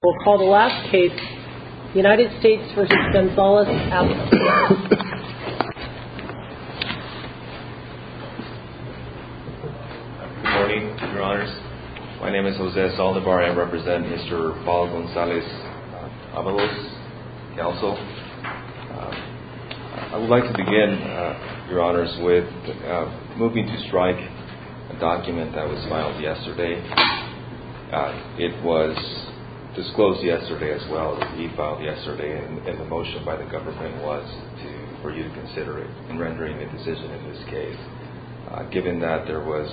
Good morning, your honors. My name is Jose Saldivar. I represent Mr. Paul Gonzalez-Avalos Council. I would like to begin, your honors, with moving to strike a document that was disclosed yesterday as well. He filed yesterday and the motion by the government was for you to consider it in rendering a decision in this case. Given that there were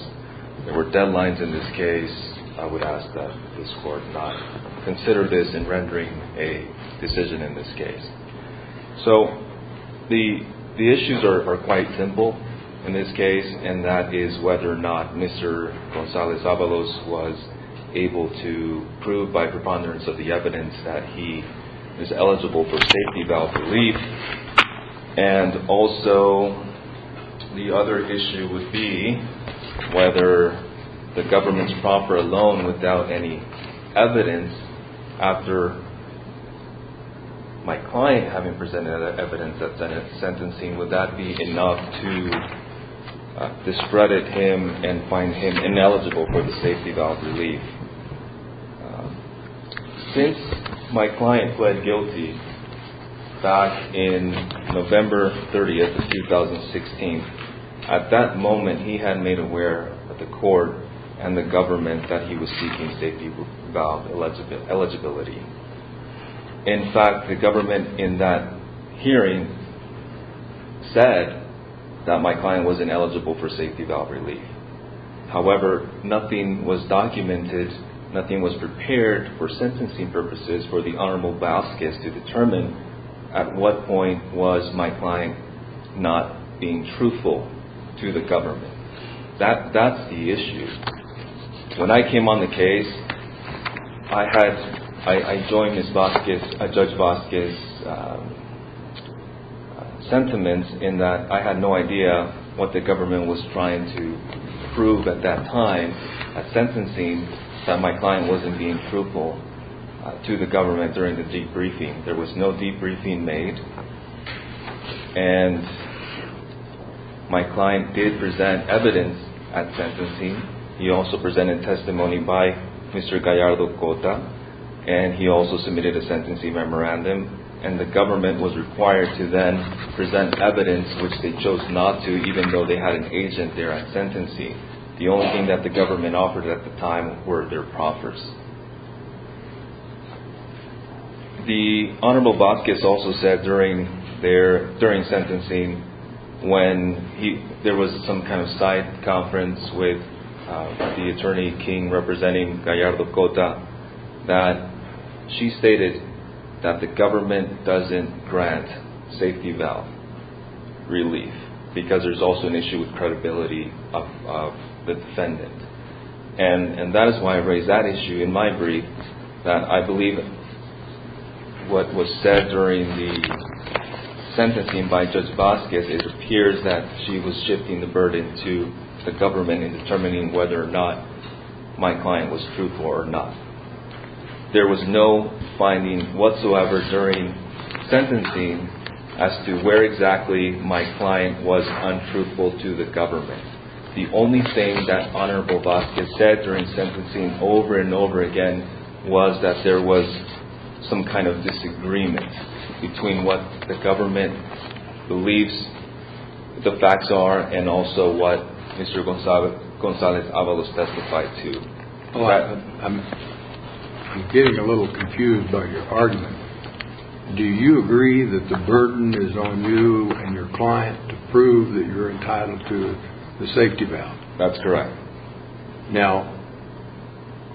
deadlines in this case, I would ask that this court not consider this in rendering a decision in this case. So the issues are quite simple in this case, and that is whether or not Mr. Gonzalez-Avalos was able to prove by preponderance of the evidence that he is eligible for safety bail relief, and also the other issue would be whether the government's proffer alone without any evidence after my client having presented evidence of sentencing, would that be enough to discredit him and find him ineligible for the safety bail relief. Since my client pled guilty back in November 30, 2016, at that moment he had made aware of the court and the government that he was seeking safety bail eligibility. In fact, the government in that hearing said that my client was ineligible for safety bail relief. However, nothing was documented, nothing was prepared for sentencing purposes for the Honorable Vasquez to determine at what point was my client not being truthful to the government. That's the issue. When I came on the case, I joined Judge Vasquez's sentiments in that I had no idea what the government was trying to prove at that time at sentencing that my client wasn't being truthful to the government during the debriefing. There was no debriefing made, and my client did present evidence at sentencing. He also presented testimony by Mr. Gallardo Cota, and he also submitted a sentencing memorandum, and the government was required to then present evidence, which they chose not to, even though they had an agent there at sentencing. The only thing that the government offered at the time were their proffers. The Honorable Vasquez also said during sentencing, when there was some kind of side conference with the Attorney King representing Gallardo Cota, that she stated that the government doesn't grant safety bail relief because there's also an issue with credibility of the defendant. And that is why I raised that issue in my brief, that I believe what was said during the sentencing by Judge Vasquez. It appears that she was shifting the burden to the government in determining whether or not my client was truthful or not. There was no finding whatsoever during sentencing as to where exactly my client was untruthful to the government. The only thing that Honorable Vasquez said during sentencing over and over again was that there was some kind of disagreement between what the government believes the facts are and also what Mr. Gonzales Avalos testified to. I'm getting a little confused by your argument. Do you agree that the burden is on you and your client to prove that you're entitled to the safety bail? That's correct. Now,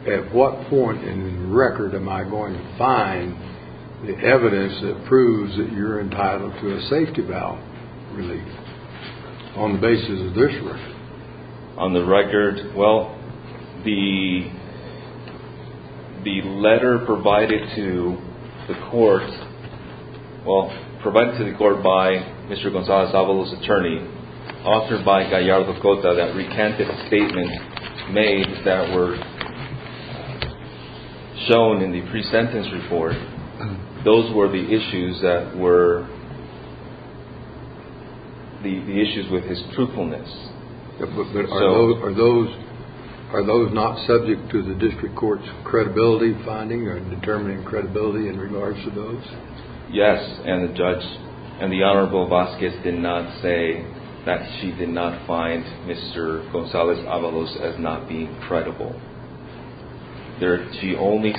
at what point in the record am I going to find the evidence that proves that you're entitled to a safety bail relief on the basis of this record? On the record, well, the letter provided to the court, well, provided to the court by Mr. Gonzales Avalos' attorney, authored by Gallardo Cota, that recanted a statement made that were shown in the pre-sentence report. Those were the issues that were the issues with his truthfulness. Are those not subject to the district court's credibility finding or determining credibility in regards to those? Yes, and the judge and the Honorable Vasquez did not say that she did not find Mr. Gonzales Avalos as not being credible. She only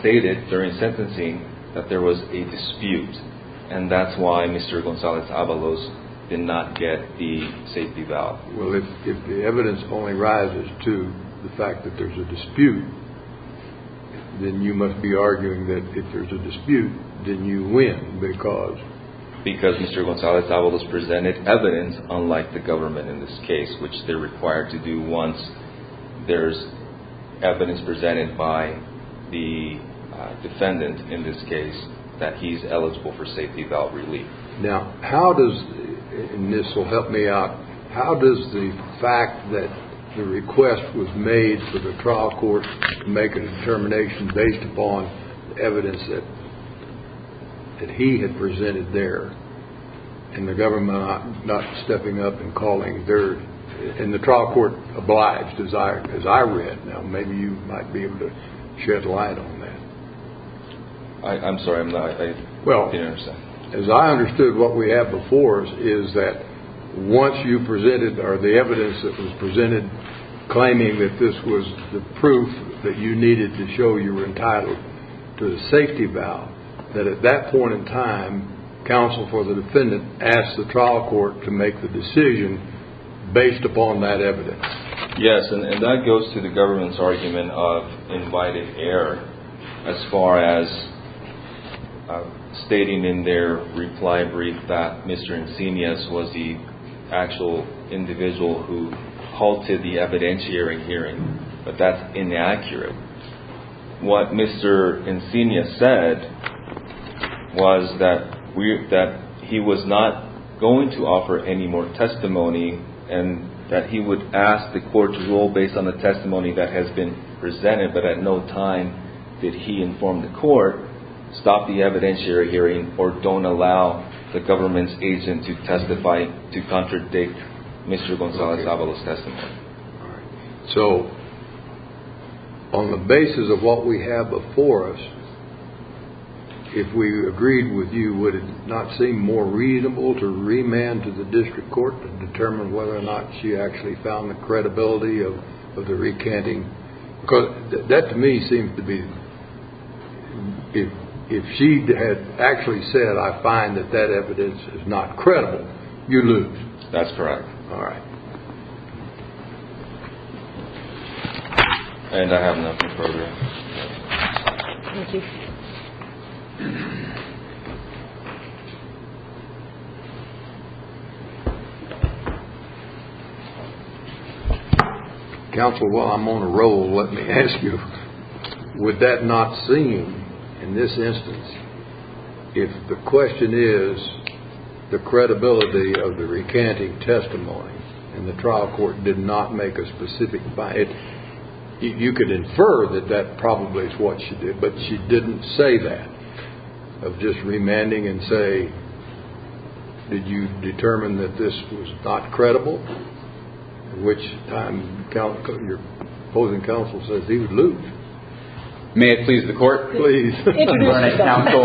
stated during sentencing that there was a dispute, and that's why Mr. Gonzales Avalos did not get the safety bail. Well, if the evidence only rises to the fact that there's a dispute, then you must be arguing that if there's a dispute, then you win because? Because Mr. Gonzales Avalos presented evidence unlike the government in this case, which they're required to do once there's evidence presented by the defendant in this case that he's eligible for safety bail relief. Now, how does – and this will help me out – how does the fact that the request was made for the trial court to make a determination based upon evidence that he had presented there, and the government not stepping up and calling dirt, and the trial court obliged, as I read. Now, maybe you might be able to shed light on that. I'm sorry, I'm not – Well, as I understood, what we have before us is that once you presented, or the evidence that was presented, claiming that this was the proof that you needed to show you were entitled to the safety bail, that at that point in time, counsel for the defendant asked the trial court to make the decision based upon that evidence. Yes, and that goes to the government's argument of invited error as far as stating in their reply brief that Mr. Encinias was the actual individual who halted the evidentiary hearing, but that's inaccurate. What Mr. Encinias said was that he was not going to offer any more testimony, and that he would ask the court to rule based on the testimony that has been presented, but at no time did he inform the court, stop the evidentiary hearing, or don't allow the government's agent to testify to contradict Mr. Gonzalez-Avalos' testimony. So, on the basis of what we have before us, if we agreed with you, would it not seem more reasonable to remand to the district court to determine whether or not she actually found the credibility of the recanting? Because that, to me, seems to be – if she had actually said, I find that that evidence is not credible, you lose. That's correct. All right. And I have nothing further. Thank you. Counsel, while I'm on a roll, let me ask you, would that not seem, in this instance, if the question is the credibility of the recanting testimony and the trial court did not make a specific – you could infer that that probably is what she did, but she didn't say that, of just remanding and say, did you determine that this was not credible, at which time your opposing counsel says he would lose. May it please the court? Please. Introduce yourself. Counsel,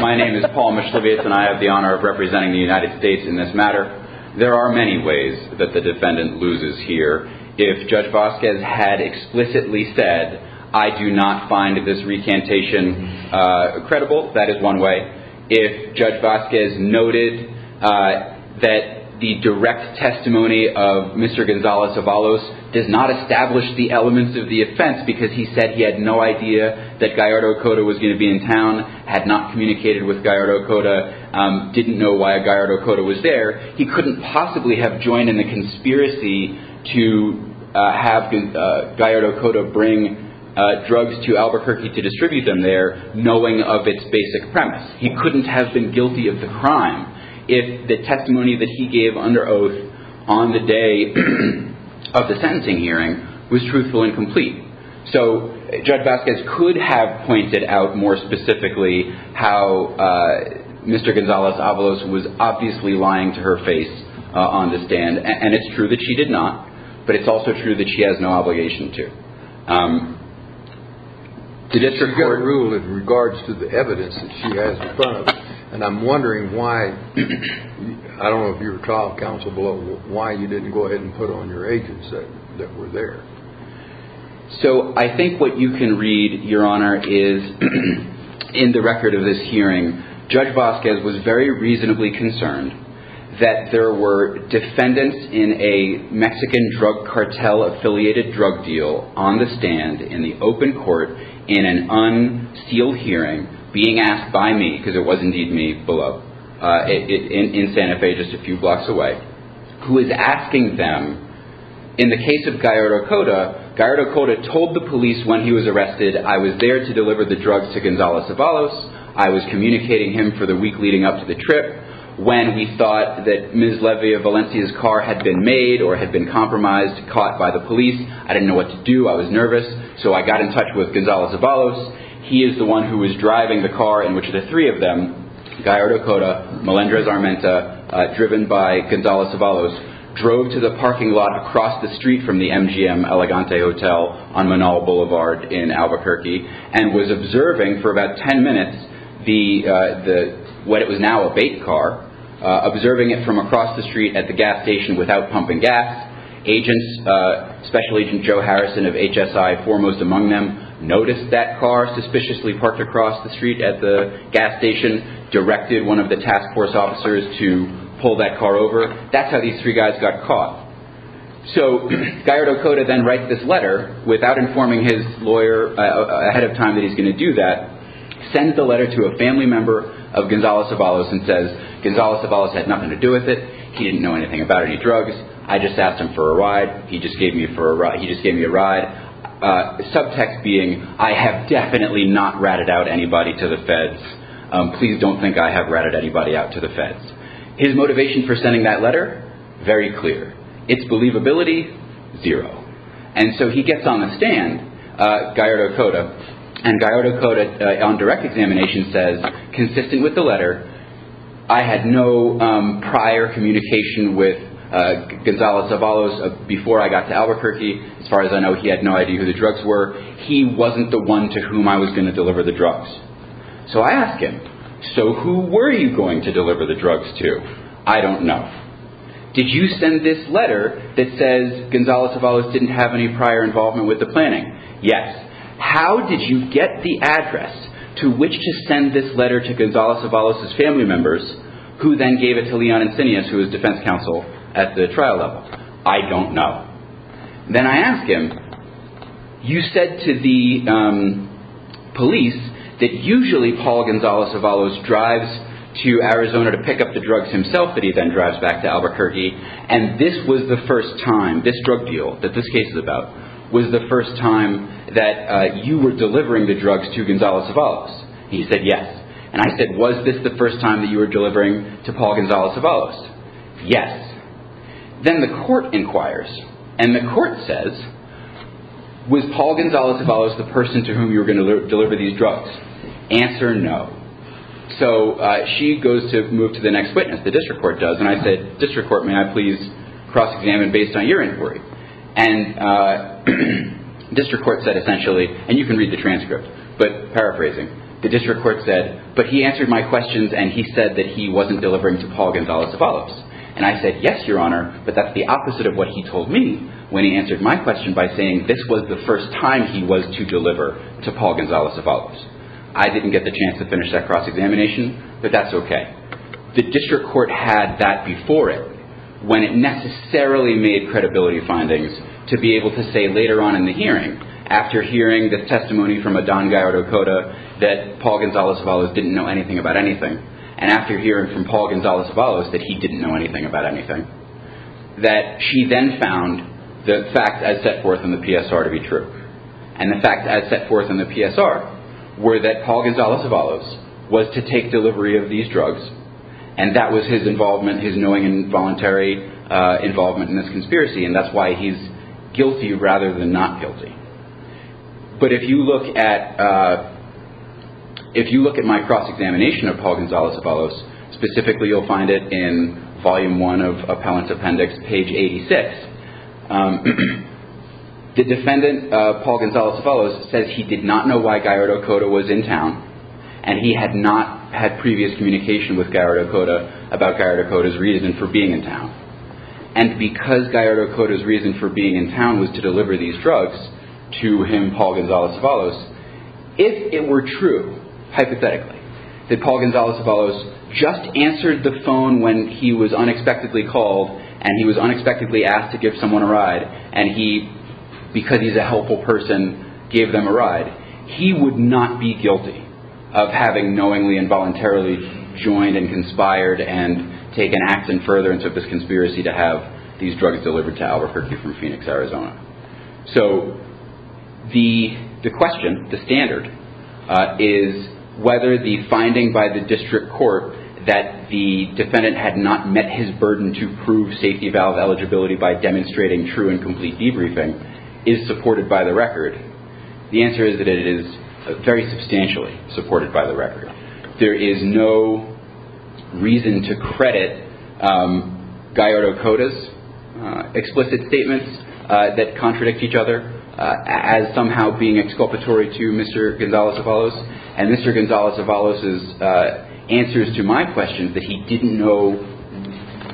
my name is Paul Mishlevietz, and I have the honor of representing the United States in this matter. There are many ways that the defendant loses here. If Judge Vasquez had explicitly said, I do not find this recantation credible, that is one way. If Judge Vasquez noted that the direct testimony of Mr. Gonzalez-Avalos does not establish the elements of the offense because he said he had no idea that Gallardo Cota was going to be in town, had not communicated with Gallardo Cota, didn't know why Gallardo Cota was there, he couldn't possibly have joined in the conspiracy to have Gallardo Cota bring drugs to Albuquerque to distribute them there, knowing of its basic premise. He couldn't have been guilty of the crime if the testimony that he gave under oath on the day of the sentencing hearing was truthful and complete. So Judge Vasquez could have pointed out more specifically how Mr. Gonzalez-Avalos was obviously lying to her face on the stand, and it's true that she did not, but it's also true that she has no obligation to. The Supreme Court ruled in regards to the evidence that she has in front of us, and I'm wondering why, I don't know if you were trial counsel below, but why you didn't go ahead and put on your agents that were there. So I think what you can read, Your Honor, is in the record of this hearing, Judge Vasquez was very reasonably concerned that there were defendants in a Mexican drug cartel affiliated drug deal on the stand in the open court in an unsealed hearing being asked by me, because it was indeed me below, in Santa Fe just a few blocks away, who is asking them, in the case of Gallardo Cota, Gallardo Cota told the police when he was arrested, I was there to deliver the drugs to Gonzalez-Avalos, I was communicating him for the week leading up to the trip, when he thought that Ms. Levia Valencia's car had been made or had been compromised, caught by the police, I didn't know what to do, I was nervous, so I got in touch with Gonzalez-Avalos, he is the one who was driving the car in which the three of them, Gallardo Cota, Melendrez Armenta, driven by Gonzalez-Avalos, drove to the parking lot across the street from the MGM Elegante Hotel on Manal Boulevard in Albuquerque, and was observing for about ten minutes what was now a bait car, observing it from across the street at the gas station without pumping gas, agents, Special Agent Joe Harrison of HSI foremost among them, noticed that car, suspiciously parked across the street at the gas station, directed one of the task force officers to pull that car over, that's how these three guys got caught. So, Gallardo Cota then writes this letter, without informing his lawyer ahead of time that he is going to do that, sends the letter to a family member of Gonzalez-Avalos and says, Gonzalez-Avalos had nothing to do with it, he didn't know anything about any drugs, I just asked him for a ride, he just gave me a ride, subtext being, I have definitely not ratted out anybody to the feds, please don't think I have ratted anybody out to the feds. His motivation for sending that letter, very clear, its believability, zero. And so he gets on the stand, Gallardo Cota, and Gallardo Cota on direct examination says, consistent with the letter, I had no prior communication with Gonzalez-Avalos before I got to Albuquerque, as far as I know he had no idea who the drugs were, he wasn't the one to whom I was going to deliver the drugs. So I ask him, so who were you going to deliver the drugs to? I don't know. Did you send this letter that says Gonzalez-Avalos didn't have any prior involvement with the planning? Yes. How did you get the address to which to send this letter to Gonzalez-Avalos' family members, who then gave it to Leon Insinius, who was defense counsel at the trial level? I don't know. Then I ask him, you said to the police that usually Paul Gonzalez-Avalos drives to Arizona to pick up the drugs himself, that he then drives back to Albuquerque, and this was the first time, this drug deal that this case is about, was the first time that you were delivering the drugs to Gonzalez-Avalos? He said yes. And I said, was this the first time that you were delivering to Paul Gonzalez-Avalos? Yes. Then the court inquires, and the court says, was Paul Gonzalez-Avalos the person to whom you were going to deliver these drugs? Answer no. So she goes to move to the next witness, the district court does, and I said, district court, may I please cross-examine based on your inquiry? And district court said essentially, and you can read the transcript, but paraphrasing, the district court said, but he answered my questions and he said that he wasn't delivering to Paul Gonzalez-Avalos. And I said, yes, Your Honor, but that's the opposite of what he told me when he answered my question by saying this was the first time he was to deliver to Paul Gonzalez-Avalos. I didn't get the chance to finish that cross-examination, but that's okay. The district court had that before it when it necessarily made credibility findings to be able to say later on in the hearing, after hearing the testimony from a Don Guy or Dakota that Paul Gonzalez-Avalos didn't know anything about anything, and after hearing from Paul Gonzalez-Avalos that he didn't know anything about anything, that she then found the facts as set forth in the PSR to be true. And the facts as set forth in the PSR were that Paul Gonzalez-Avalos was to take delivery of these drugs, and that was his involvement, his knowing and voluntary involvement in this conspiracy, and that's why he's guilty rather than not guilty. But if you look at my cross-examination of Paul Gonzalez-Avalos, specifically you'll find it in Volume 1 of Appellant's Appendix, page 86. The defendant, Paul Gonzalez-Avalos, says he did not know why Guy or Dakota was in town, and he had not had previous communication with Guy or Dakota about Guy or Dakota's reason for being in town. And because Guy or Dakota's reason for being in town was to deliver these drugs to him, Paul Gonzalez-Avalos, if it were true, hypothetically, that Paul Gonzalez-Avalos just answered the phone when he was unexpectedly called and he was unexpectedly asked to give someone a ride, and he, because he's a helpful person, gave them a ride, he would not be guilty of having knowingly and voluntarily joined and conspired and taken action further into this conspiracy to have these drugs delivered to Albert Hercule from Phoenix, Arizona. So the question, the standard, is whether the finding by the district court that the defendant had not met his burden to prove safety valve eligibility by demonstrating true and complete debriefing is supported by the record. The answer is that it is very substantially supported by the record. There is no reason to credit Guy or Dakota's explicit statements that contradict each other as somehow being exculpatory to Mr. Gonzalez-Avalos, and Mr. Gonzalez-Avalos' answers to my question that he didn't know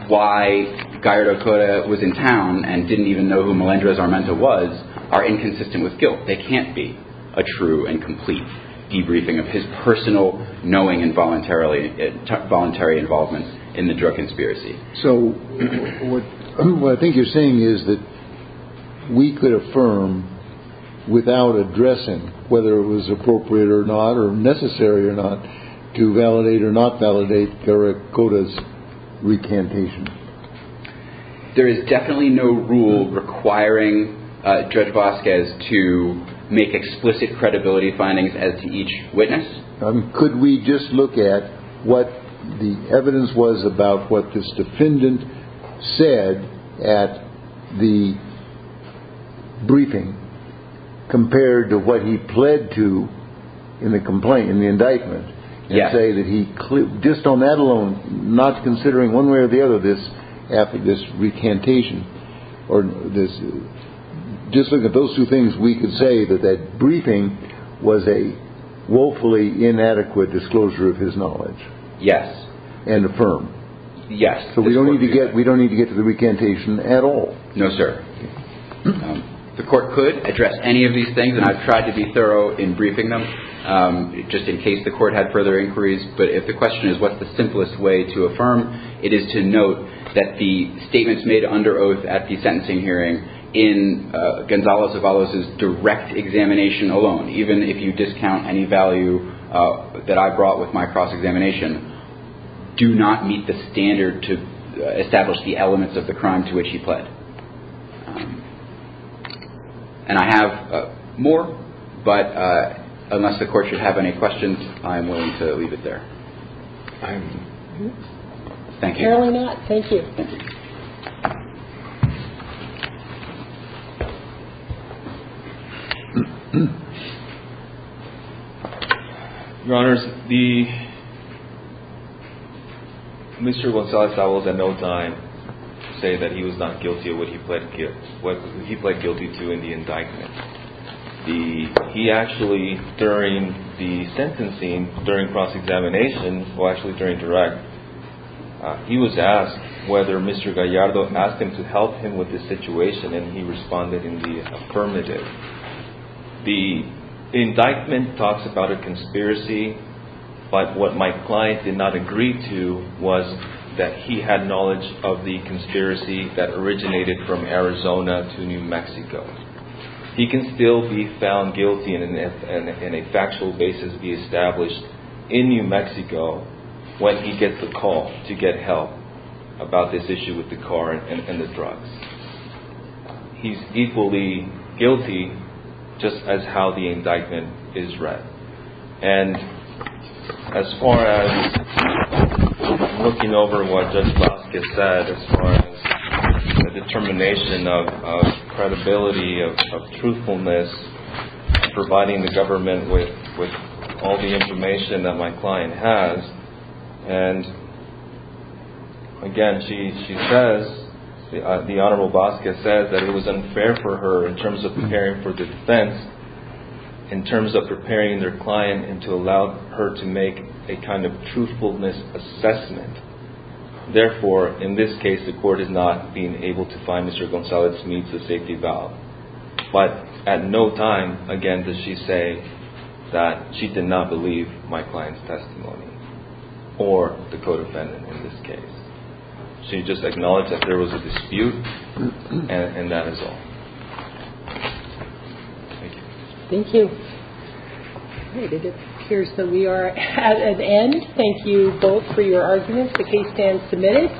why Guy or Dakota was in town and didn't even know who Melendrez-Armenta was are inconsistent with guilt. They can't be a true and complete debriefing of his personal knowing and voluntary involvement in the drug conspiracy. So what I think you're saying is that we could affirm without addressing whether it was appropriate or not or necessary or not to validate or not validate Guy or Dakota's recantation. There is definitely no rule requiring Judge Vasquez to make explicit credibility findings as to each witness. Could we just look at what the evidence was about what this defendant said at the briefing compared to what he pled to in the indictment and say that he, just on that alone, not considering one way or the other this recantation, or just look at those two things, we could say that that briefing was a woefully inadequate disclosure of his knowledge. Yes. And affirm. Yes. So we don't need to get to the recantation at all. No, sir. The court could address any of these things, and I've tried to be thorough in briefing them, just in case the court had further inquiries, but if the question is what's the simplest way to affirm, it is to note that the statements made under oath at the sentencing hearing in Gonzalez-Avalos' direct examination alone, even if you discount any value that I brought with my cross-examination, do not meet the standard to establish the elements of the crime to which he pled. And I have more, but unless the court should have any questions, I am willing to leave it there. Thank you. Apparently not. Thank you. Your Honors, the Mr. Gonzalez-Avalos at no time said that he was not guilty of what he pled guilty to in the indictment. He actually, during the sentencing, during cross-examination, or actually during direct, he was asked whether Mr. Gallardo asked him to help him with the situation, and he responded in the affirmative. The indictment talks about a conspiracy, but what my client did not agree to was that he had knowledge of the conspiracy that originated from Arizona to New Mexico. He can still be found guilty in a factual basis, be established in New Mexico, when he gets a call to get help about this issue with the car and the drugs. He's equally guilty just as how the indictment is read. And as far as looking over what Judge Vasquez said, as far as the determination of credibility, of truthfulness, providing the government with all the information that my client has, and again, she says, the Honorable Vasquez said that it was unfair for her in terms of preparing for defense, in terms of preparing their client and to allow her to make a kind of truthfulness assessment. Therefore, in this case, the court is not being able to find Mr. Gonzalez meets a safety valve. But at no time, again, does she say that she did not believe my client's testimony, or the co-defendant in this case. She just acknowledged that there was a dispute, and that is all. Thank you. Thank you. All right, it appears that we are at an end. Thank you both for your arguments. The case stands submitted.